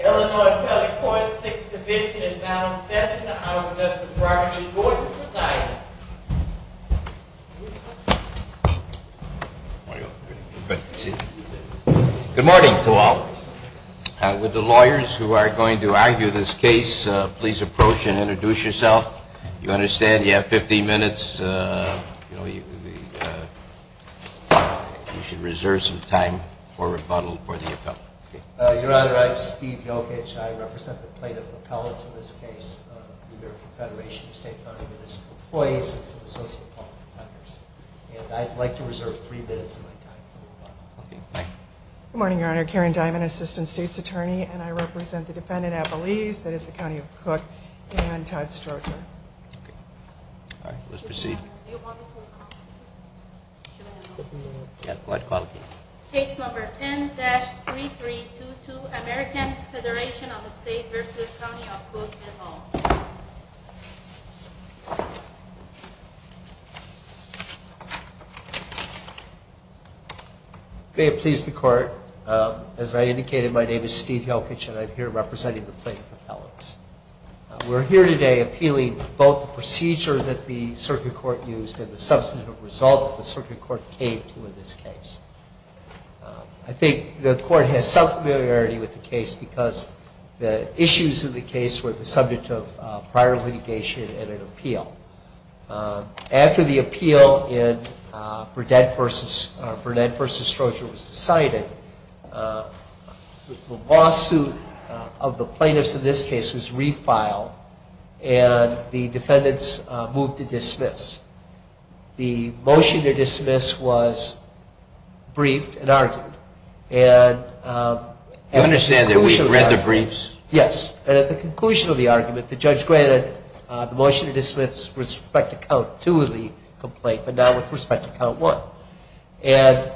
Illinois Appellate Court, 6th Division is now in session. Our Justice Robert G. Gordon, good night. Good morning to all. Would the lawyers who are going to argue this case please approach and introduce yourself. You understand you have 15 minutes. You should reserve some time for rebuttal for the appellate. Your Honor, I'm Steve Jokic. I represent the plaintiff appellates in this case. New York Confederation of State County Municipal Employees and the Associated Public Defenders. And I'd like to reserve three minutes of my time for rebuttal. Good morning, Your Honor. Karen Dimon, Assistant State's Attorney. And I represent the defendant at Belize, that is the County of Cook, and Todd Stroger. All right, let's proceed. Case number 10-3322, American Federation of State v. County of Cook, Illinois. May it please the Court, as I indicated, my name is Steve Jokic and I'm here representing the plaintiff appellates. We're here today appealing both the procedure that the circuit court used and the substantive result that the circuit court came to in this case. I think the Court has some familiarity with the case because the issues of the case were the subject of prior litigation and an appeal. After the appeal in Burnett v. Stroger was decided, the lawsuit of the plaintiffs in this case was refiled and the defendants moved to dismiss. The motion to dismiss was briefed and argued. You understand that we read the briefs? Yes, and at the conclusion of the argument, the judge granted the motion to dismiss with respect to count two of the complaint, but not with respect to count one. And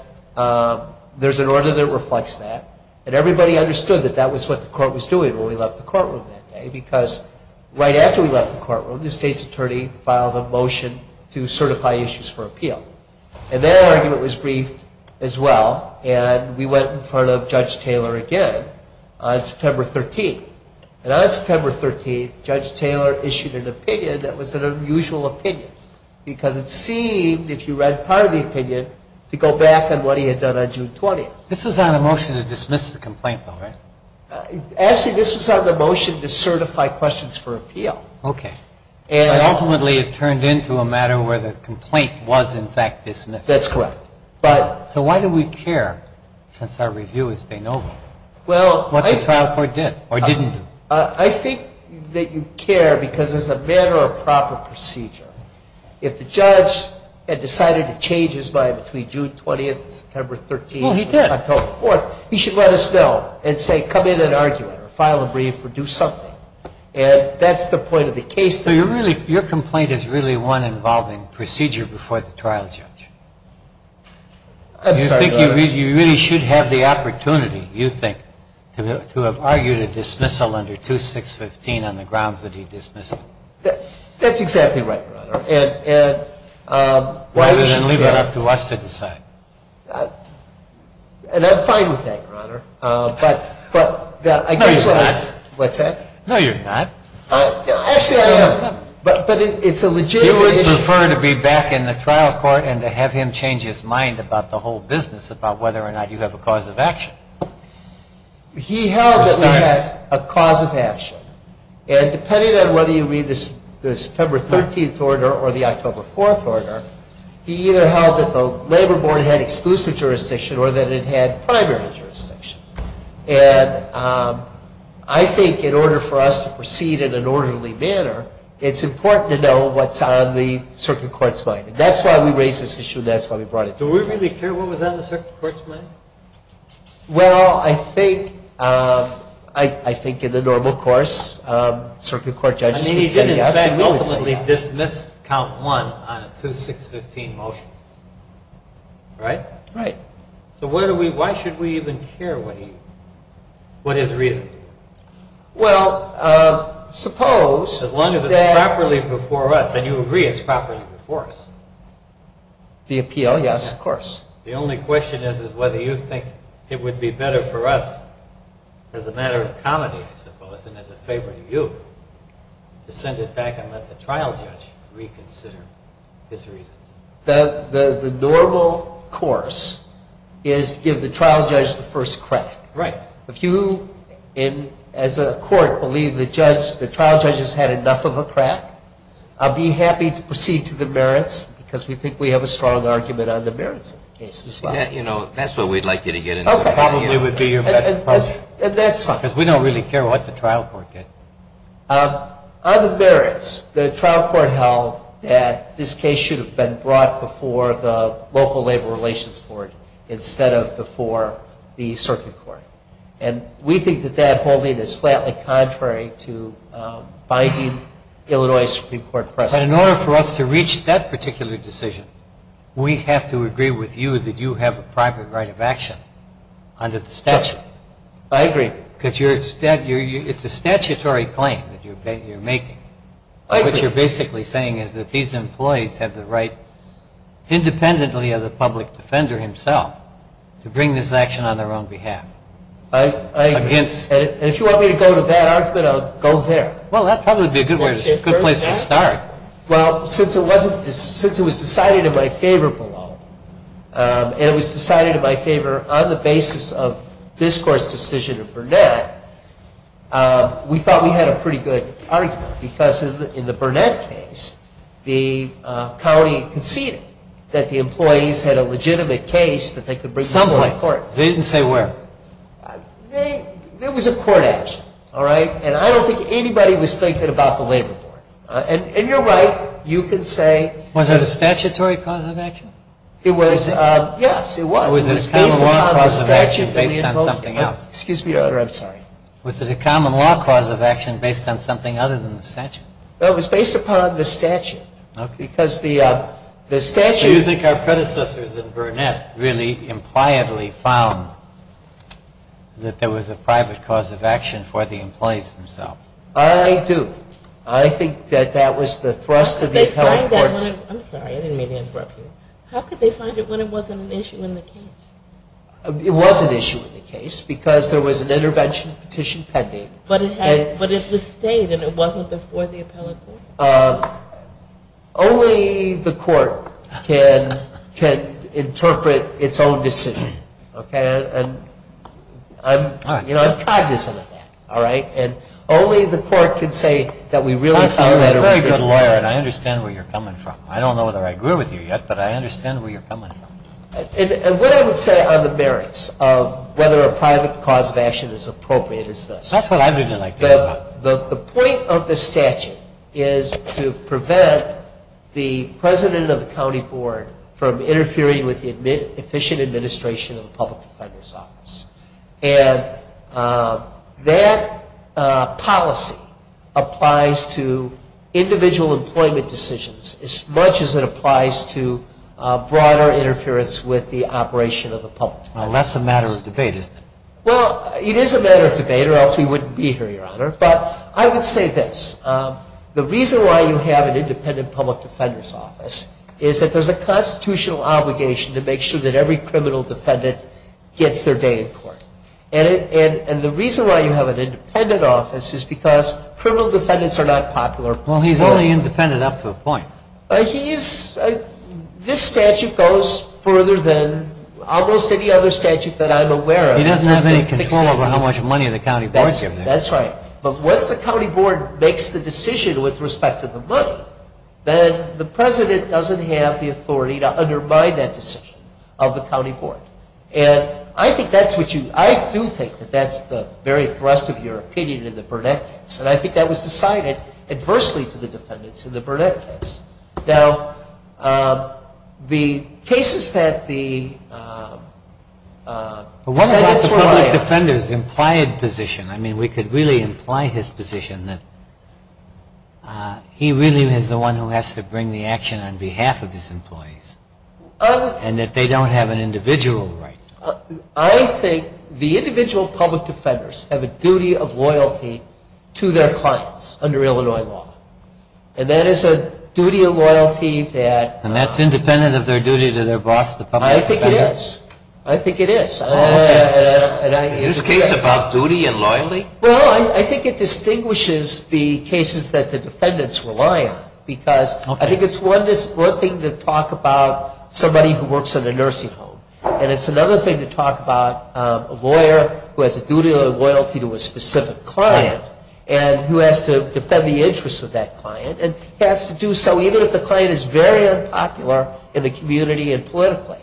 there's an order that reflects that, and everybody understood that that was what the Court was doing when we left the courtroom that day. Because right after we left the courtroom, the State's Attorney filed a motion to certify issues for appeal. And that argument was briefed as well, and we went in front of Judge Taylor again on September 13th. And on September 13th, Judge Taylor issued an opinion that was an unusual opinion, because it seemed, if you read part of the opinion, to go back on what he had done on June 20th. This was on a motion to dismiss the complaint, though, right? Actually, this was on the motion to certify questions for appeal. Okay. And ultimately, it turned into a matter where the complaint was, in fact, dismissed. That's correct. So why do we care, since our review is de novo, what the trial court did or didn't do? I think that you care because as a matter of proper procedure, if the judge had decided to change his mind between June 20th and September 13th and October 4th, he should let us know and say, come in and argue it or file a brief or do something. And that's the point of the case. So your complaint is really one involving procedure before the trial judge? I'm sorry, Your Honor. Do you think you really should have the opportunity, you think, to have argued a dismissal under 2615 on the grounds that he dismissed it? That's exactly right, Your Honor. And why don't you leave it up to us to decide? And I'm fine with that, Your Honor. No, you're not. What's that? No, you're not. Actually, I am. But it's a legitimate issue. He would prefer to be back in the trial court and to have him change his mind about the whole business about whether or not you have a cause of action. He held that we had a cause of action. And depending on whether you read the September 13th order or the October 4th order, he either held that the labor board had exclusive jurisdiction or that it had primary jurisdiction. And I think in order for us to proceed in an orderly manner, it's important to know what's on the circuit court's mind. And that's why we raised this issue and that's why we brought it to your attention. Do we really care what was on the circuit court's mind? Well, I think in the normal course, circuit court judges would say yes and we would say yes. He ultimately dismissed count one on a 2-6-15 motion. Right? Right. So why should we even care what his reason is? Well, suppose that... As long as it's properly before us and you agree it's properly before us. The appeal, yes, of course. The only question is whether you think it would be better for us as a matter of comedy, I suppose, than as a favor to you to send it back and let the trial judge reconsider his reasons. The normal course is to give the trial judge the first crack. Right. If you, as a court, believe the trial judge has had enough of a crack, I'll be happy to proceed to the merits because we think we have a strong argument on the merits of the case as well. That's what we'd like you to get into. Okay. Probably would be your best approach. That's fine. Because we don't really care what the trial court did. On the merits, the trial court held that this case should have been brought before the local labor relations board instead of before the circuit court. And we think that that holding is flatly contrary to binding Illinois Supreme Court precedent. But in order for us to reach that particular decision, we have to agree with you that you have a private right of action under the statute. I agree. Because it's a statutory claim that you're making. I agree. Which you're basically saying is that these employees have the right, independently of the public defender himself, to bring this action on their own behalf. I agree. And if you want me to go to that argument, I'll go there. Well, that probably would be a good place to start. Well, since it was decided in my favor below, and it was decided in my favor on the basis of this court's decision in Burnett, we thought we had a pretty good argument. Because in the Burnett case, the county conceded that the employees had a legitimate case that they could bring to the court. They didn't say where. There was a court action, all right? And I don't think anybody was thinking about the labor board. And you're right. You could say. Was it a statutory cause of action? It was. Yes, it was. Was it a common law cause of action based on something else? Excuse me, Your Honor. I'm sorry. Was it a common law cause of action based on something other than the statute? It was based upon the statute. Okay. Because the statute. Do you think our predecessors in Burnett really impliedly found that there was a private cause of action for the employees themselves? I do. I think that that was the thrust of the appellate courts. I'm sorry. I didn't mean to interrupt you. How could they find it when it wasn't an issue in the case? It was an issue in the case because there was an intervention petition pending. But it was stayed and it wasn't before the appellate court? Only the court can interpret its own decision, okay? And I'm cognizant of that, all right? And only the court can say that we really found that. I thought you were a very good lawyer, and I understand where you're coming from. I don't know whether I agree with you yet, but I understand where you're coming from. And what I would say on the merits of whether a private cause of action is appropriate is this. That's what I would like to hear about. The point of the statute is to prevent the president of the county board from interfering with the efficient administration of the public defender's office. And that policy applies to individual employment decisions as much as it applies to broader interference with the operation of the public. Well, that's a matter of debate, isn't it? Well, it is a matter of debate or else we wouldn't be here, Your Honor. But I would say this. The reason why you have an independent public defender's office is that there's a constitutional obligation to make sure that every criminal defendant gets their day in court. And the reason why you have an independent office is because criminal defendants are not popular. Well, he's only independent up to a point. He's – this statute goes further than almost any other statute that I'm aware of. He doesn't have any control over how much money the county board gives him. That's right. But once the county board makes the decision with respect to the money, then the president doesn't have the authority to undermine that decision of the county board. And I think that's what you – I do think that that's the very thrust of your opinion in the Burnett case. And I think that was decided adversely to the defendants in the Burnett case. Now, the cases that the defendants rely on – I would imply his position that he really is the one who has to bring the action on behalf of his employees. And that they don't have an individual right. I think the individual public defenders have a duty of loyalty to their clients under Illinois law. And that is a duty of loyalty that – And that's independent of their duty to their boss, the public defender? I think it is. I think it is. Is this case about duty and loyalty? Well, I think it distinguishes the cases that the defendants rely on. Because I think it's one thing to talk about somebody who works in a nursing home. And it's another thing to talk about a lawyer who has a duty of loyalty to a specific client. And who has to defend the interests of that client. And has to do so even if the client is very unpopular in the community and politically.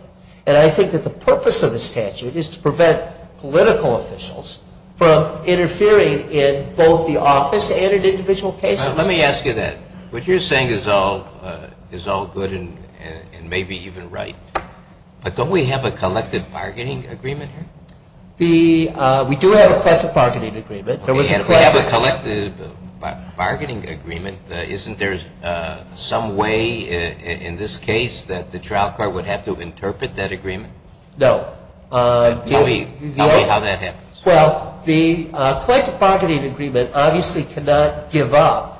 And I think that the purpose of the statute is to prevent political officials from interfering in both the office and in individual cases. Now, let me ask you that. What you're saying is all good and maybe even right. But don't we have a collective bargaining agreement here? We do have a collective bargaining agreement. We have a collective bargaining agreement. Isn't there some way in this case that the trial court would have to interpret that agreement? No. Tell me how that happens. Well, the collective bargaining agreement obviously cannot give up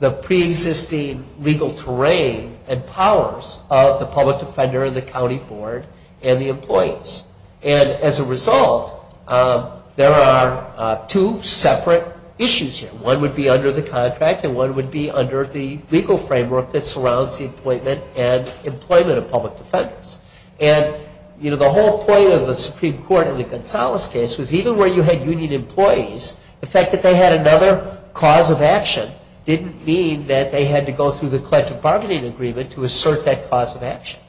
the preexisting legal terrain and powers of the public defender and the county board and the employees. And as a result, there are two separate issues here. One would be under the contract and one would be under the legal framework that surrounds the appointment and employment of public defenders. And, you know, the whole point of the Supreme Court in the Gonzales case was even where you had union employees, the fact that they had another cause of action didn't mean that they had to go through the collective bargaining agreement to assert that cause of action.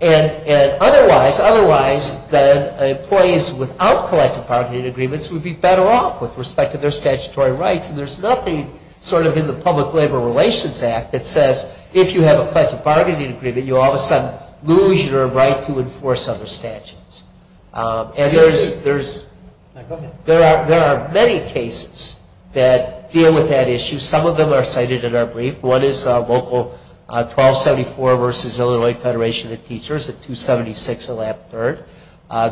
And otherwise, employees without collective bargaining agreements would be better off with respect to their statutory rights. And there's nothing sort of in the Public Labor Relations Act that says if you have a collective bargaining agreement, you all of a sudden lose your right to enforce other statutes. And there are many cases that deal with that issue. Some of them are cited in our brief. One is Local 1274 v. Illinois Federation of Teachers at 276 Allap Third.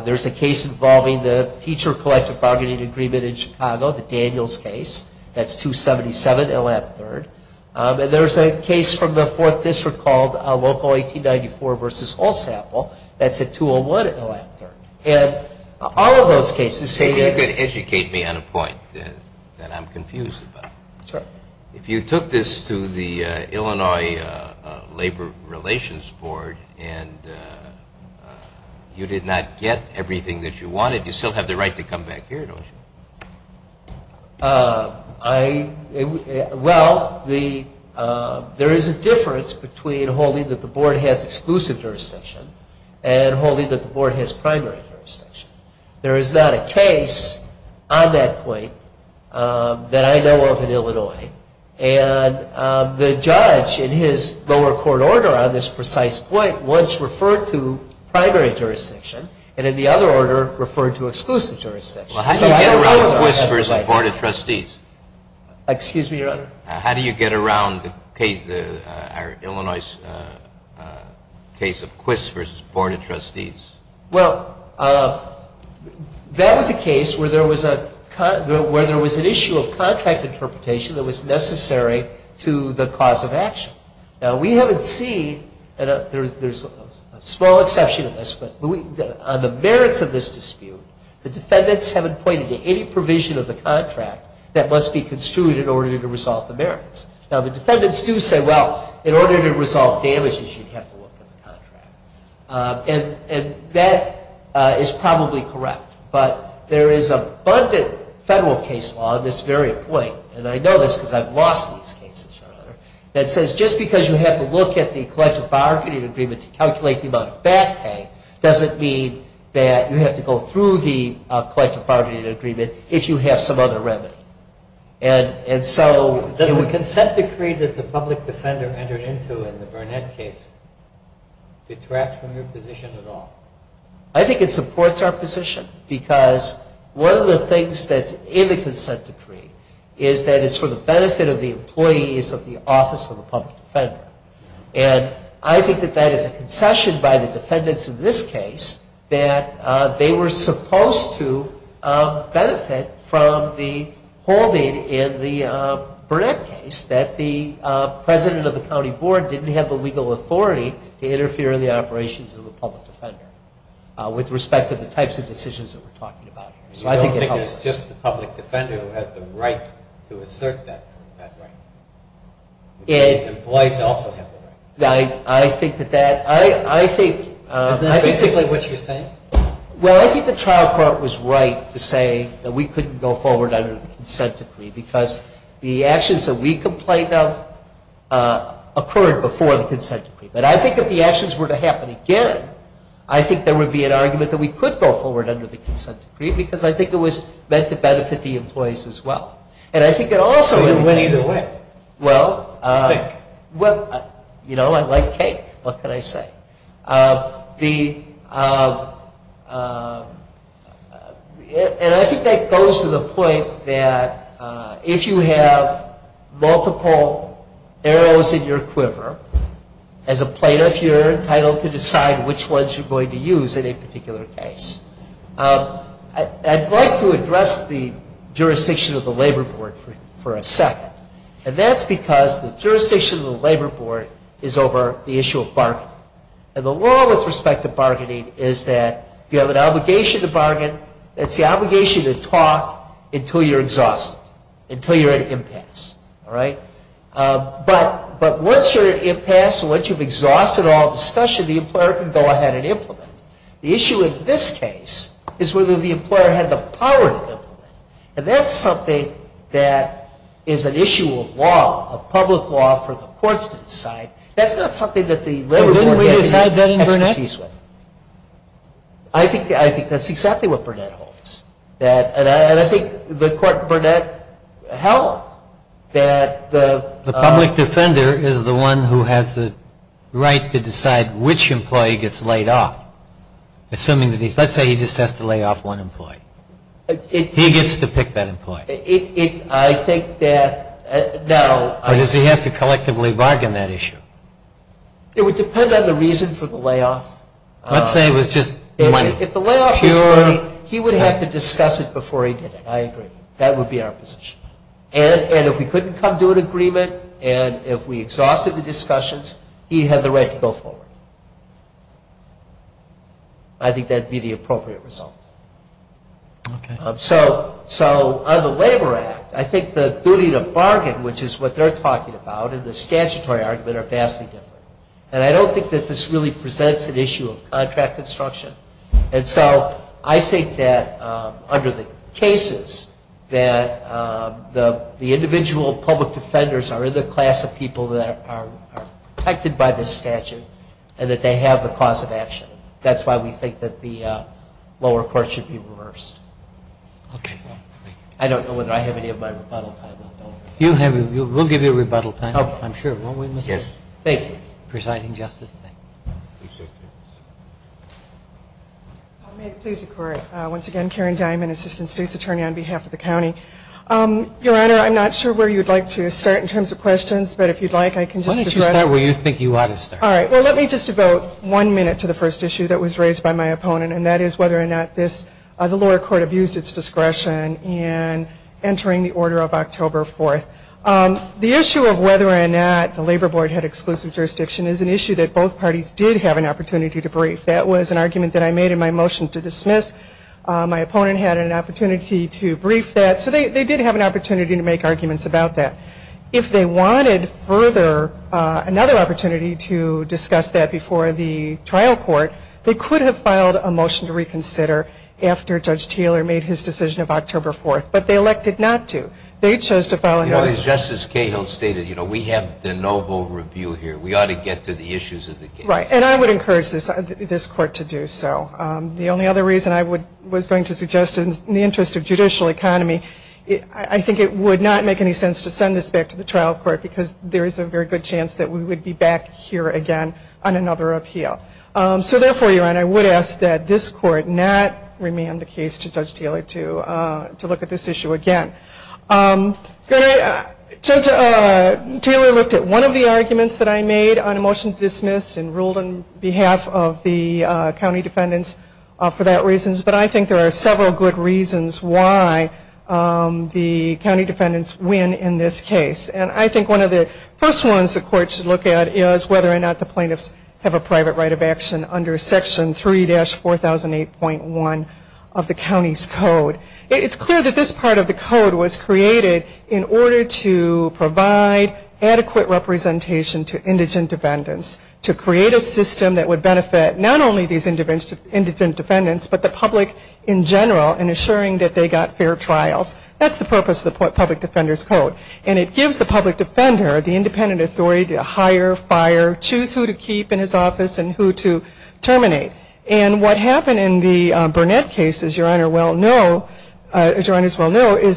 There's a case involving the teacher collective bargaining agreement in Chicago, the Daniels case. That's 277 Allap Third. And there's a case from the Fourth District called Local 1894 v. Hull-Sample. That's at 201 Allap Third. And all of those cases say that they're the same. If you could educate me on a point that I'm confused about. Sure. If you took this to the Illinois Labor Relations Board and you did not get everything that you wanted, you still have the right to come back here, don't you? Well, there is a difference between holding that the board has exclusive jurisdiction and holding that the board has primary jurisdiction. There is not a case on that point that I know of in Illinois. And the judge in his lower court order on this precise point once referred to primary jurisdiction and in the other order referred to exclusive jurisdiction. Well, how do you get around Quist v. Board of Trustees? Excuse me, Your Honor? How do you get around the Illinois case of Quist v. Board of Trustees? Well, that was a case where there was an issue of contract interpretation that was necessary to the cause of action. Now, we haven't seen, and there's a small exception in this, but on the merits of this dispute, the defendants haven't pointed to any provision of the contract that must be construed in order to resolve the merits. Now, the defendants do say, well, in order to resolve damages, you'd have to look at the contract. And that is probably correct, but there is abundant federal case law on this very point, and I know this because I've lost these cases, Your Honor, that says just because you have to look at the collective bargaining agreement to calculate the amount of back pay doesn't mean that you have to go through the collective bargaining agreement if you have some other remedy. Does the consent decree that the public defender entered into in the Burnett case detract from your position at all? I think it supports our position because one of the things that's in the consent decree is that it's for the benefit of the employees of the Office of the Public Defender. And I think that that is a concession by the defendants in this case that they were supposed to benefit from the holding in the Burnett case that the president of the county board didn't have the legal authority to interfere in the operations of the public defender with respect to the types of decisions that we're talking about here. So I think it helps us. You don't think it's just the public defender who has the right to assert that right? The employees also have the right. I think that that... Is that basically what you're saying? Well, I think the trial court was right to say that we couldn't go forward under the consent decree because the actions that we complained of occurred before the consent decree. But I think if the actions were to happen again, I think there would be an argument that we could go forward under the consent decree because I think it was meant to benefit the employees as well. And I think it also... So you went either way? Well, you know, I like cake. What can I say? And I think that goes to the point that if you have multiple arrows in your quiver, as a plaintiff you're entitled to decide which ones you're going to use in a particular case. I'd like to address the jurisdiction of the labor board for a second. And that's because the jurisdiction of the labor board is over the issue of bargaining. And the law with respect to bargaining is that you have an obligation to bargain. It's the obligation to talk until you're exhausted, until you're at an impasse. All right? But once you're at an impasse, once you've exhausted all discussion, the employer can go ahead and implement it. The issue in this case is whether the employer had the power to implement it. And that's something that is an issue of law, of public law for the courts to decide. That's not something that the labor board gets any expertise with. Didn't we decide that in Burnett? I think that's exactly what Burnett holds. And I think the court in Burnett held that the... The employer is the one who has the right to decide which employee gets laid off. Assuming that he's... Let's say he just has to lay off one employee. He gets to pick that employee. I think that... Or does he have to collectively bargain that issue? It would depend on the reason for the layoff. Let's say it was just money. If the layoff was money, he would have to discuss it before he did it. I agree. That would be our position. And if we couldn't come to an agreement and if we exhausted the discussions, he had the right to go forward. I think that would be the appropriate result. Okay. So on the Labor Act, I think the duty to bargain, which is what they're talking about, and the statutory argument are vastly different. And I don't think that this really presents an issue of contract construction. And so I think that under the cases that the individual public defenders are in the class of people that are protected by this statute and that they have the cause of action. That's why we think that the lower court should be reversed. Okay. Thank you. I don't know whether I have any of my rebuttal time left over. We'll give you rebuttal time. I'm sure. Won't we, Mr. Chairman? Yes. Thank you. Presiding Justice. Thank you. Appreciate it. If I may please, once again, Karen Diamond, Assistant State's Attorney on behalf of the county. Your Honor, I'm not sure where you'd like to start in terms of questions, but if you'd like, I can just address. Why don't you start where you think you ought to start. All right. Well, let me just devote one minute to the first issue that was raised by my opponent, and that is whether or not the lower court abused its discretion in entering the order of October 4th. The issue of whether or not the labor board had exclusive jurisdiction is an issue that both parties did have an opportunity to brief. That was an argument that I made in my motion to dismiss. My opponent had an opportunity to brief that. So they did have an opportunity to make arguments about that. If they wanted further another opportunity to discuss that before the trial court, they could have filed a motion to reconsider after Judge Taylor made his decision of October 4th, but they elected not to. They chose to file a motion. Justice Cahill stated, you know, we have the noble review here. We ought to get to the issues of the case. Right, and I would encourage this Court to do so. The only other reason I was going to suggest in the interest of judicial economy, I think it would not make any sense to send this back to the trial court because there is a very good chance that we would be back here again on another appeal. So therefore, Your Honor, I would ask that this Court not remand the case to Judge Taylor to look at this issue again. Judge Taylor looked at one of the arguments that I made on a motion to dismiss and ruled on behalf of the county defendants for that reason. But I think there are several good reasons why the county defendants win in this case. And I think one of the first ones the Court should look at is whether or not the plaintiffs have a private right of action under Section 3-4008.1 of the county's code. It's clear that this part of the code was created in order to provide adequate representation to indigent defendants, to create a system that would benefit not only these indigent defendants, but the public in general in assuring that they got fair trials. And it gives the public defender the independent authority to hire, fire, choose who to keep in his office and who to terminate. And what happened in the Burnett case, as Your Honor well know, is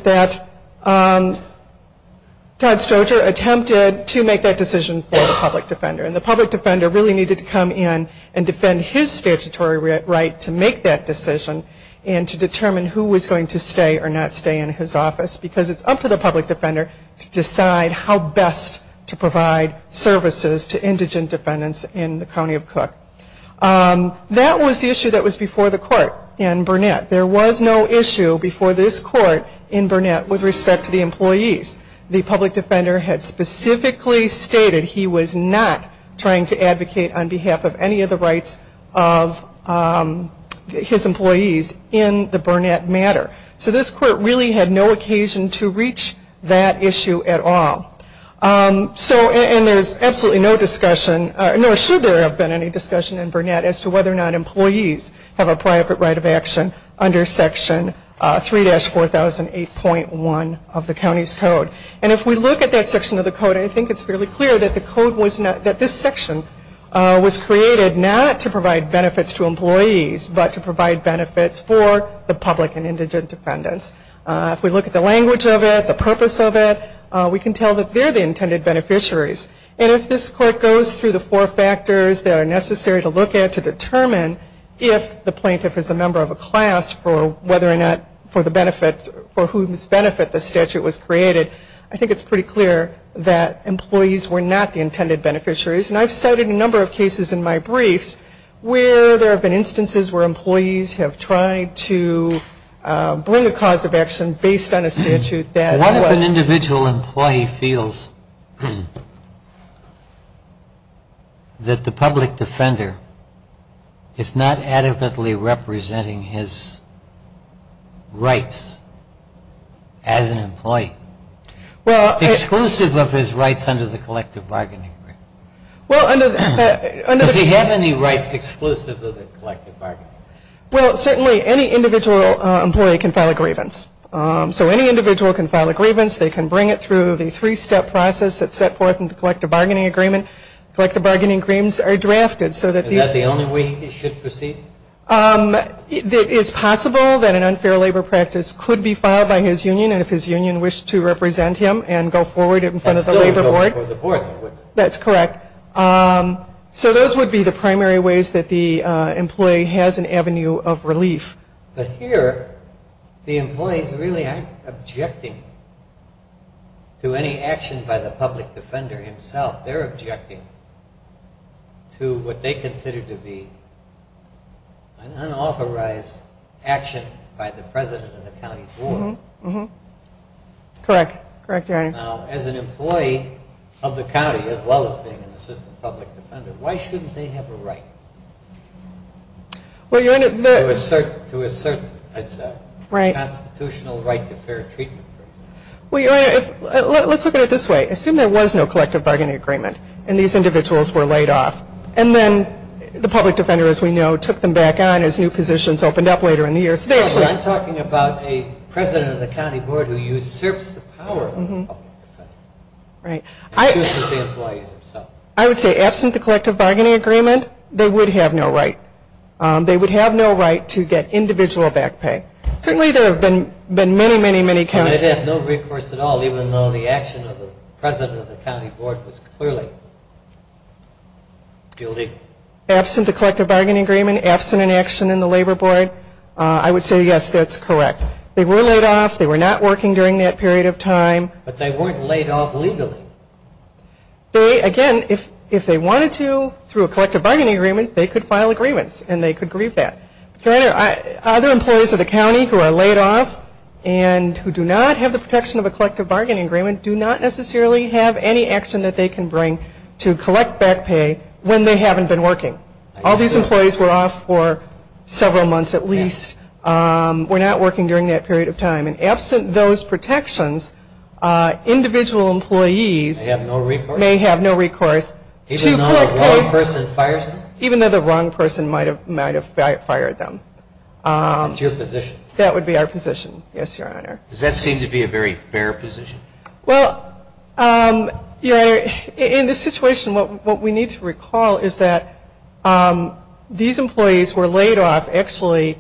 that Todd Stroger attempted to make that decision for the public defender. And the public defender really needed to come in and defend his statutory right to make that decision and to determine who was going to stay or not stay in his office because it's up to the public defender to decide how best to provide services to indigent defendants in the county of Cook. That was the issue that was before the Court in Burnett. There was no issue before this Court in Burnett with respect to the employees. The public defender had specifically stated he was not trying to advocate on behalf of any of the rights of his employees. in the Burnett matter. So this Court really had no occasion to reach that issue at all. And there's absolutely no discussion, nor should there have been any discussion in Burnett, as to whether or not employees have a private right of action under Section 3-4008.1 of the county's code. And if we look at that section of the code, I think it's fairly clear that this section was created not to provide benefits to employees, but to provide benefits for the public and indigent defendants. If we look at the language of it, the purpose of it, we can tell that they're the intended beneficiaries. And if this Court goes through the four factors that are necessary to look at to determine if the plaintiff is a member of a class for whether or not for the benefit, for whose benefit the statute was created, I think it's pretty clear that employees were not the intended beneficiaries. And I've cited a number of cases in my briefs where there have been instances where employees have tried to bring a cause of action based on a statute that was... One of an individual employee feels that the public defender is not adequately representing his rights as an employee. Exclusive of his rights under the Collective Bargaining Agreement. Does he have any rights exclusive of the Collective Bargaining Agreement? Well, certainly any individual employee can file a grievance. So any individual can file a grievance. They can bring it through the three-step process that's set forth in the Collective Bargaining Agreement. Collective Bargaining Agreements are drafted so that these... Is that the only way he should proceed? It is possible that an unfair labor practice could be filed by his union, and if his union wished to represent him and go forward in front of the labor board... And still go before the board. That's correct. So those would be the primary ways that the employee has an avenue of relief. But here, the employees really aren't objecting to any action by the public defender himself. They're objecting to what they consider to be an unauthorized action by the president of the county board. Mm-hmm. Correct. Correct, Your Honor. Now, as an employee of the county, as well as being an assistant public defender, why shouldn't they have a right? Well, Your Honor, the... To assert, I'd say. Right. A constitutional right to fair treatment, for example. Well, Your Honor, let's look at it this way. Assume there was no collective bargaining agreement, and these individuals were laid off. And then the public defender, as we know, took them back on as new positions opened up later in the year. No, but I'm talking about a president of the county board who usurps the power of the public defender. Right. And uses the employees himself. I would say, absent the collective bargaining agreement, they would have no right. They would have no right to get individual back pay. Certainly there have been many, many, many... They'd have no recourse at all, even though the action of the president of the county board was clearly guilty. Absent the collective bargaining agreement, absent an action in the labor board, I would say, yes, that's correct. They were laid off. They were not working during that period of time. But they weren't laid off legally. They, again, if they wanted to, through a collective bargaining agreement, they could file agreements, and they could grieve that. Other employees of the county who are laid off and who do not have the protection of a collective bargaining agreement do not necessarily have any action that they can bring to collect back pay when they haven't been working. All these employees were off for several months at least. Were not working during that period of time. And absent those protections, individual employees... May have no recourse. May have no recourse to collect pay. Even though the wrong person fires them. That's your position. That would be our position, yes, Your Honor. Does that seem to be a very fair position? Well, Your Honor, in this situation, what we need to recall is that these employees were laid off, actually,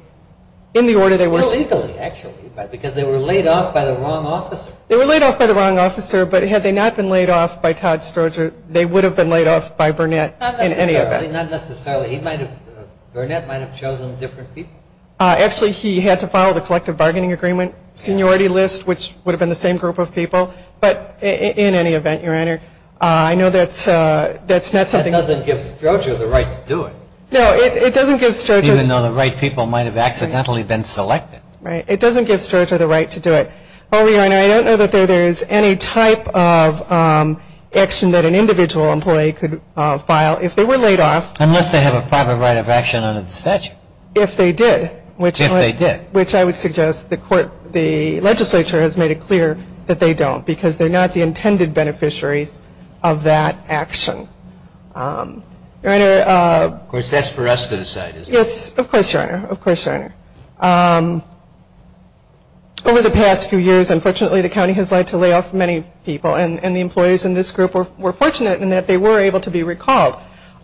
in the order they were... Illegally, actually, because they were laid off by the wrong officer. They were laid off by the wrong officer, but had they not been laid off by Todd Stroger, they would have been laid off by Burnett in any event. Not necessarily. Burnett might have chosen different people. Actually, he had to file the collective bargaining agreement seniority list, which would have been the same group of people. But in any event, Your Honor, I know that's not something... That doesn't give Stroger the right to do it. No, it doesn't give Stroger... Even though the right people might have accidentally been selected. It doesn't give Stroger the right to do it. Well, Your Honor, I don't know that there is any type of action that an individual employee could file if they were laid off. Unless they have a private right of action under the statute. If they did. If they did. Which I would suggest the legislature has made it clear that they don't, because they're not the intended beneficiaries of that action. Your Honor... Of course, that's for us to decide, isn't it? Yes, of course, Your Honor. Of course, Your Honor. Over the past few years, unfortunately, the county has had to lay off many people, and the employees in this group were fortunate in that they were able to be recalled.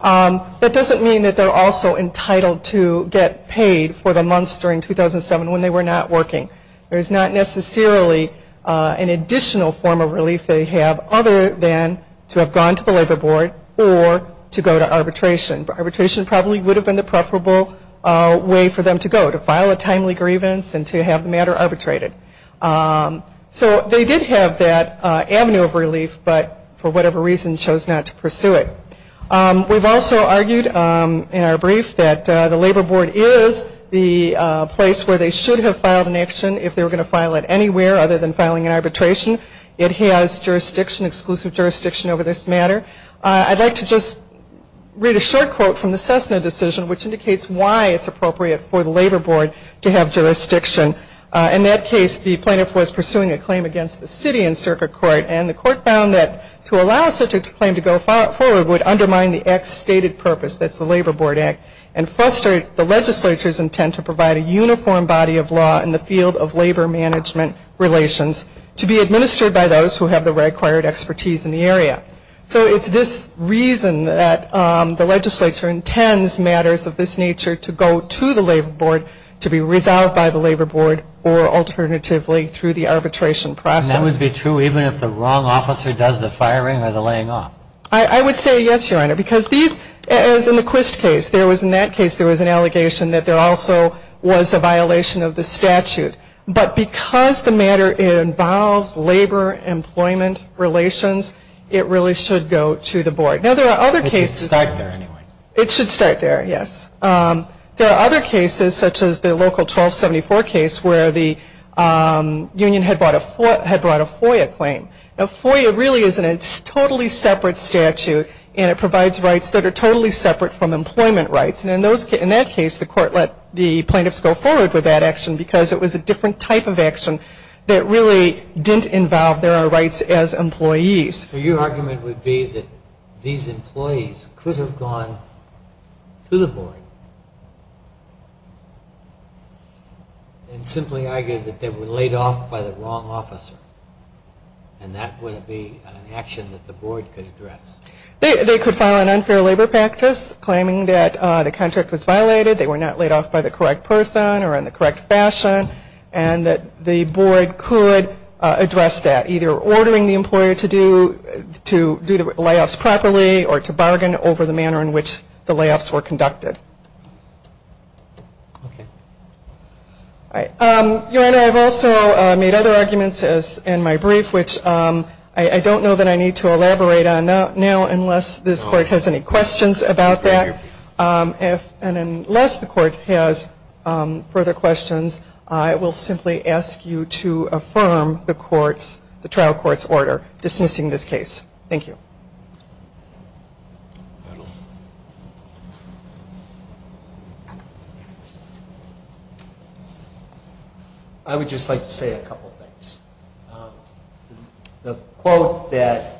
That doesn't mean that they're also entitled to get paid for the months during 2007 when they were not working. There's not necessarily an additional form of relief they have other than to have gone to the labor board or to go to arbitration. Arbitration probably would have been the preferable way for them to go. To file a timely grievance and to have the matter arbitrated. So they did have that avenue of relief, but for whatever reason chose not to pursue it. We've also argued in our brief that the labor board is the place where they should have filed an action if they were going to file it anywhere other than filing an arbitration. It has jurisdiction, exclusive jurisdiction over this matter. I'd like to just read a short quote from the Cessna decision, which indicates why it's appropriate for the labor board to have jurisdiction. In that case, the plaintiff was pursuing a claim against the city in circuit court, and the court found that to allow such a claim to go forward would undermine the act's stated purpose, that's the Labor Board Act, and frustrate the legislature's intent to provide a uniform body of law in the field of labor management relations to be administered by those who have the required expertise in the area. So it's this reason that the legislature intends matters of this nature to go to the labor board to be resolved by the labor board or alternatively through the arbitration process. And that would be true even if the wrong officer does the firing or the laying off? I would say yes, Your Honor, because these, as in the Quist case, there was in that case there was an allegation that there also was a violation of the statute. But because the matter involves labor employment relations, it really should go to the board. Now there are other cases. It should start there anyway. It should start there, yes. There are other cases such as the local 1274 case where the union had brought a FOIA claim. Now FOIA really is in a totally separate statute, and it provides rights that are totally separate from employment rights. And in that case the court let the plaintiffs go forward with that action because it was a different type of action that really didn't involve their rights as employees. So your argument would be that these employees could have gone to the board and simply argued that they were laid off by the wrong officer, and that wouldn't be an action that the board could address? They could file an unfair labor practice claiming that the contract was violated, they were not laid off by the correct person or in the correct fashion, and that the board could address that. Either ordering the employer to do the layoffs properly or to bargain over the manner in which the layoffs were conducted. Your Honor, I've also made other arguments in my brief, which I don't know that I need to elaborate on now unless this court has any questions about that. And unless the court has further questions, I will simply ask you to affirm the trial court's order dismissing this case. Thank you. I would just like to say a couple of things. The quote that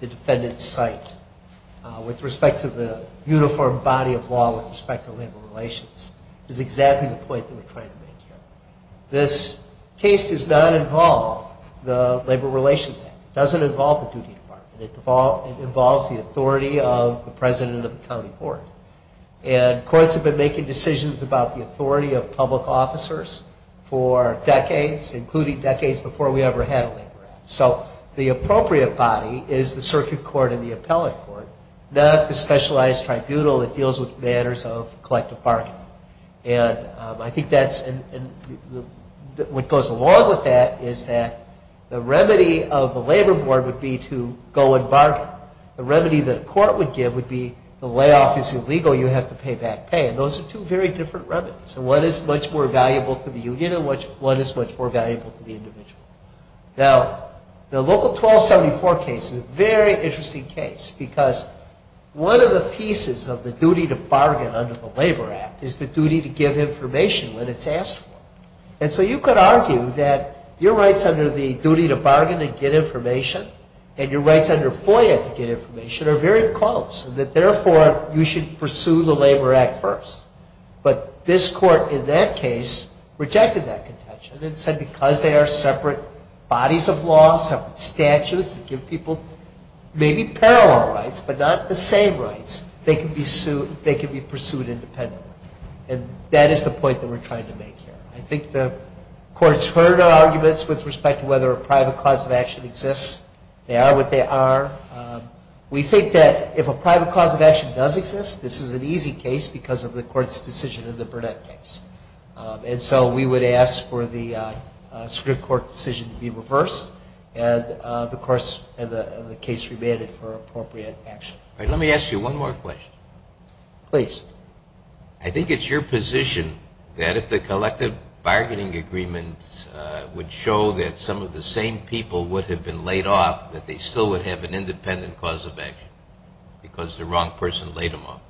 the defendants cite with respect to the uniform body of law with respect to labor relations is exactly the point that we're trying to make here. This case does not involve the Labor Relations Act. It doesn't involve the duty department. It involves the authority of the president of the county board. And courts have been making decisions about the authority of public officers for decades, including decades before we ever had a labor act. So the appropriate body is the circuit court and the appellate court, not the specialized tribunal that deals with matters of collective bargaining. And I think what goes along with that is that the remedy of the labor board would be to go and bargain. The remedy that a court would give would be the layoff is illegal, you have to pay back pay. And those are two very different remedies. One is much more valuable to the union and one is much more valuable to the individual. Now, the local 1274 case is a very interesting case because one of the pieces of the duty to bargain under the Labor Act is the duty to give information when it's asked for. And so you could argue that your rights under the duty to bargain and get information and your rights under FOIA to get information are very close, and that therefore you should pursue the Labor Act first. But this court in that case rejected that contention and said because they are separate bodies of law, separate statutes that give people maybe parallel rights but not the same rights, they can be pursued independently. And that is the point that we're trying to make here. I think the courts heard our arguments with respect to whether a private cause of action exists. They are what they are. We think that if a private cause of action does exist, this is an easy case because of the court's decision in the Burnett case. And so we would ask for the Supreme Court decision to be reversed and the case remanded for appropriate action. Let me ask you one more question. Please. I think it's your position that if the collective bargaining agreements would show that some of the same people would have been laid off, that they still would have an independent cause of action because the wrong person laid them off?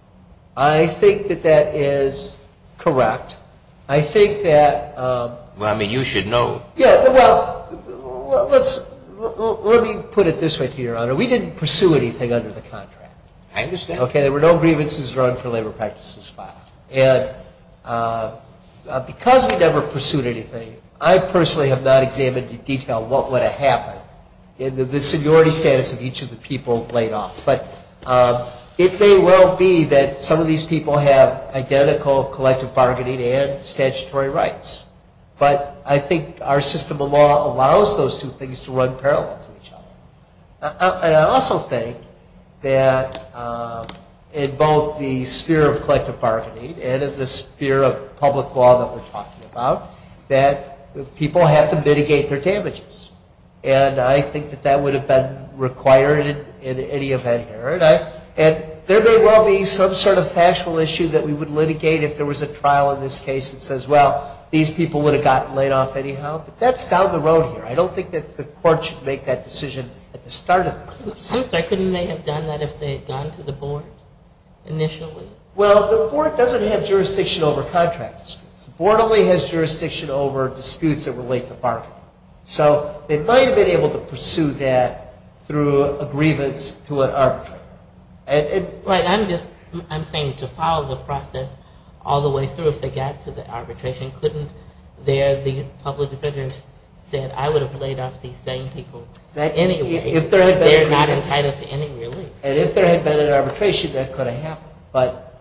I think that that is correct. I think that... Well, I mean, you should know. Yeah, well, let me put it this way to you, Your Honor. We didn't pursue anything under the contract. I understand. Okay, there were no grievances run for labor practices filed. And because we never pursued anything, I personally have not examined in detail what would have happened in the seniority status of each of the people laid off. But it may well be that some of these people have identical collective bargaining and statutory rights. But I think our system of law allows those two things to run parallel to each other. And I also think that in both the sphere of collective bargaining and in the sphere of public law that we're talking about, that people have to mitigate their damages. And I think that that would have been required in any event here. And there may well be some sort of factual issue that we would litigate if there was a trial in this case that says, well, these people would have gotten laid off anyhow. But that's down the road here. I don't think that the court should make that decision at the start of the case. Couldn't they have done that if they had gone to the board initially? Well, the board doesn't have jurisdiction over contract disputes. The board only has jurisdiction over disputes that relate to bargaining. So they might have been able to pursue that through a grievance to an arbitrator. I'm saying to follow the process all the way through, if they got to the arbitration, couldn't the public defender have said, I would have laid off these same people anyway? They're not entitled to any relief. And if there had been an arbitration, that could have happened. But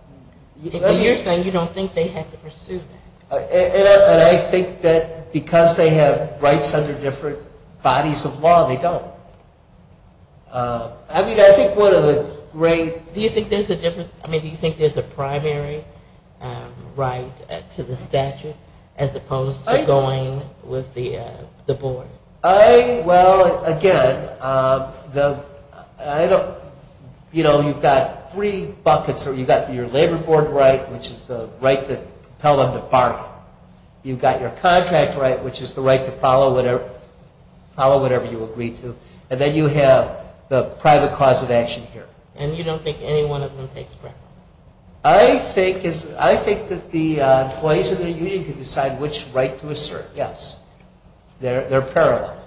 you're saying you don't think they had to pursue that. And I think that because they have rights under different bodies of law, they don't. Do you think there's a primary right to the statute as opposed to going with the board? Well, again, you've got three buckets. You've got your labor board right, which is the right to compel them to bargain. You've got your contract right, which is the right to follow whatever you agree to. And then you have the private cause of action here. And you don't think any one of them takes preference? I think that the employees of the union can decide which right to assert, yes. They're parallel.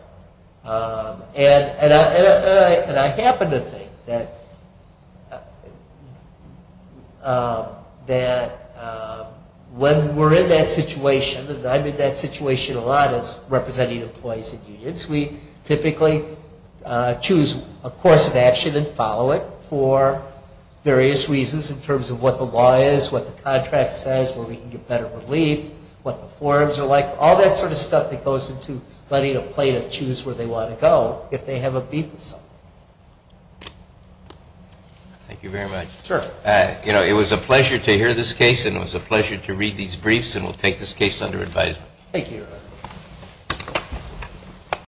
And I happen to think that when we're in that situation, and I'm in that situation a lot as representing employees in unions, we typically choose a course of action and follow it for various reasons in terms of what the law is, what the contract says, where we can get better relief, what the forms are like, all that sort of stuff that goes into letting a plaintiff choose where they want to go if they have a beef with someone. Thank you very much. Sure. It was a pleasure to hear this case, and it was a pleasure to read these briefs, and we'll take this case under advisement. Thank you, Your Honor.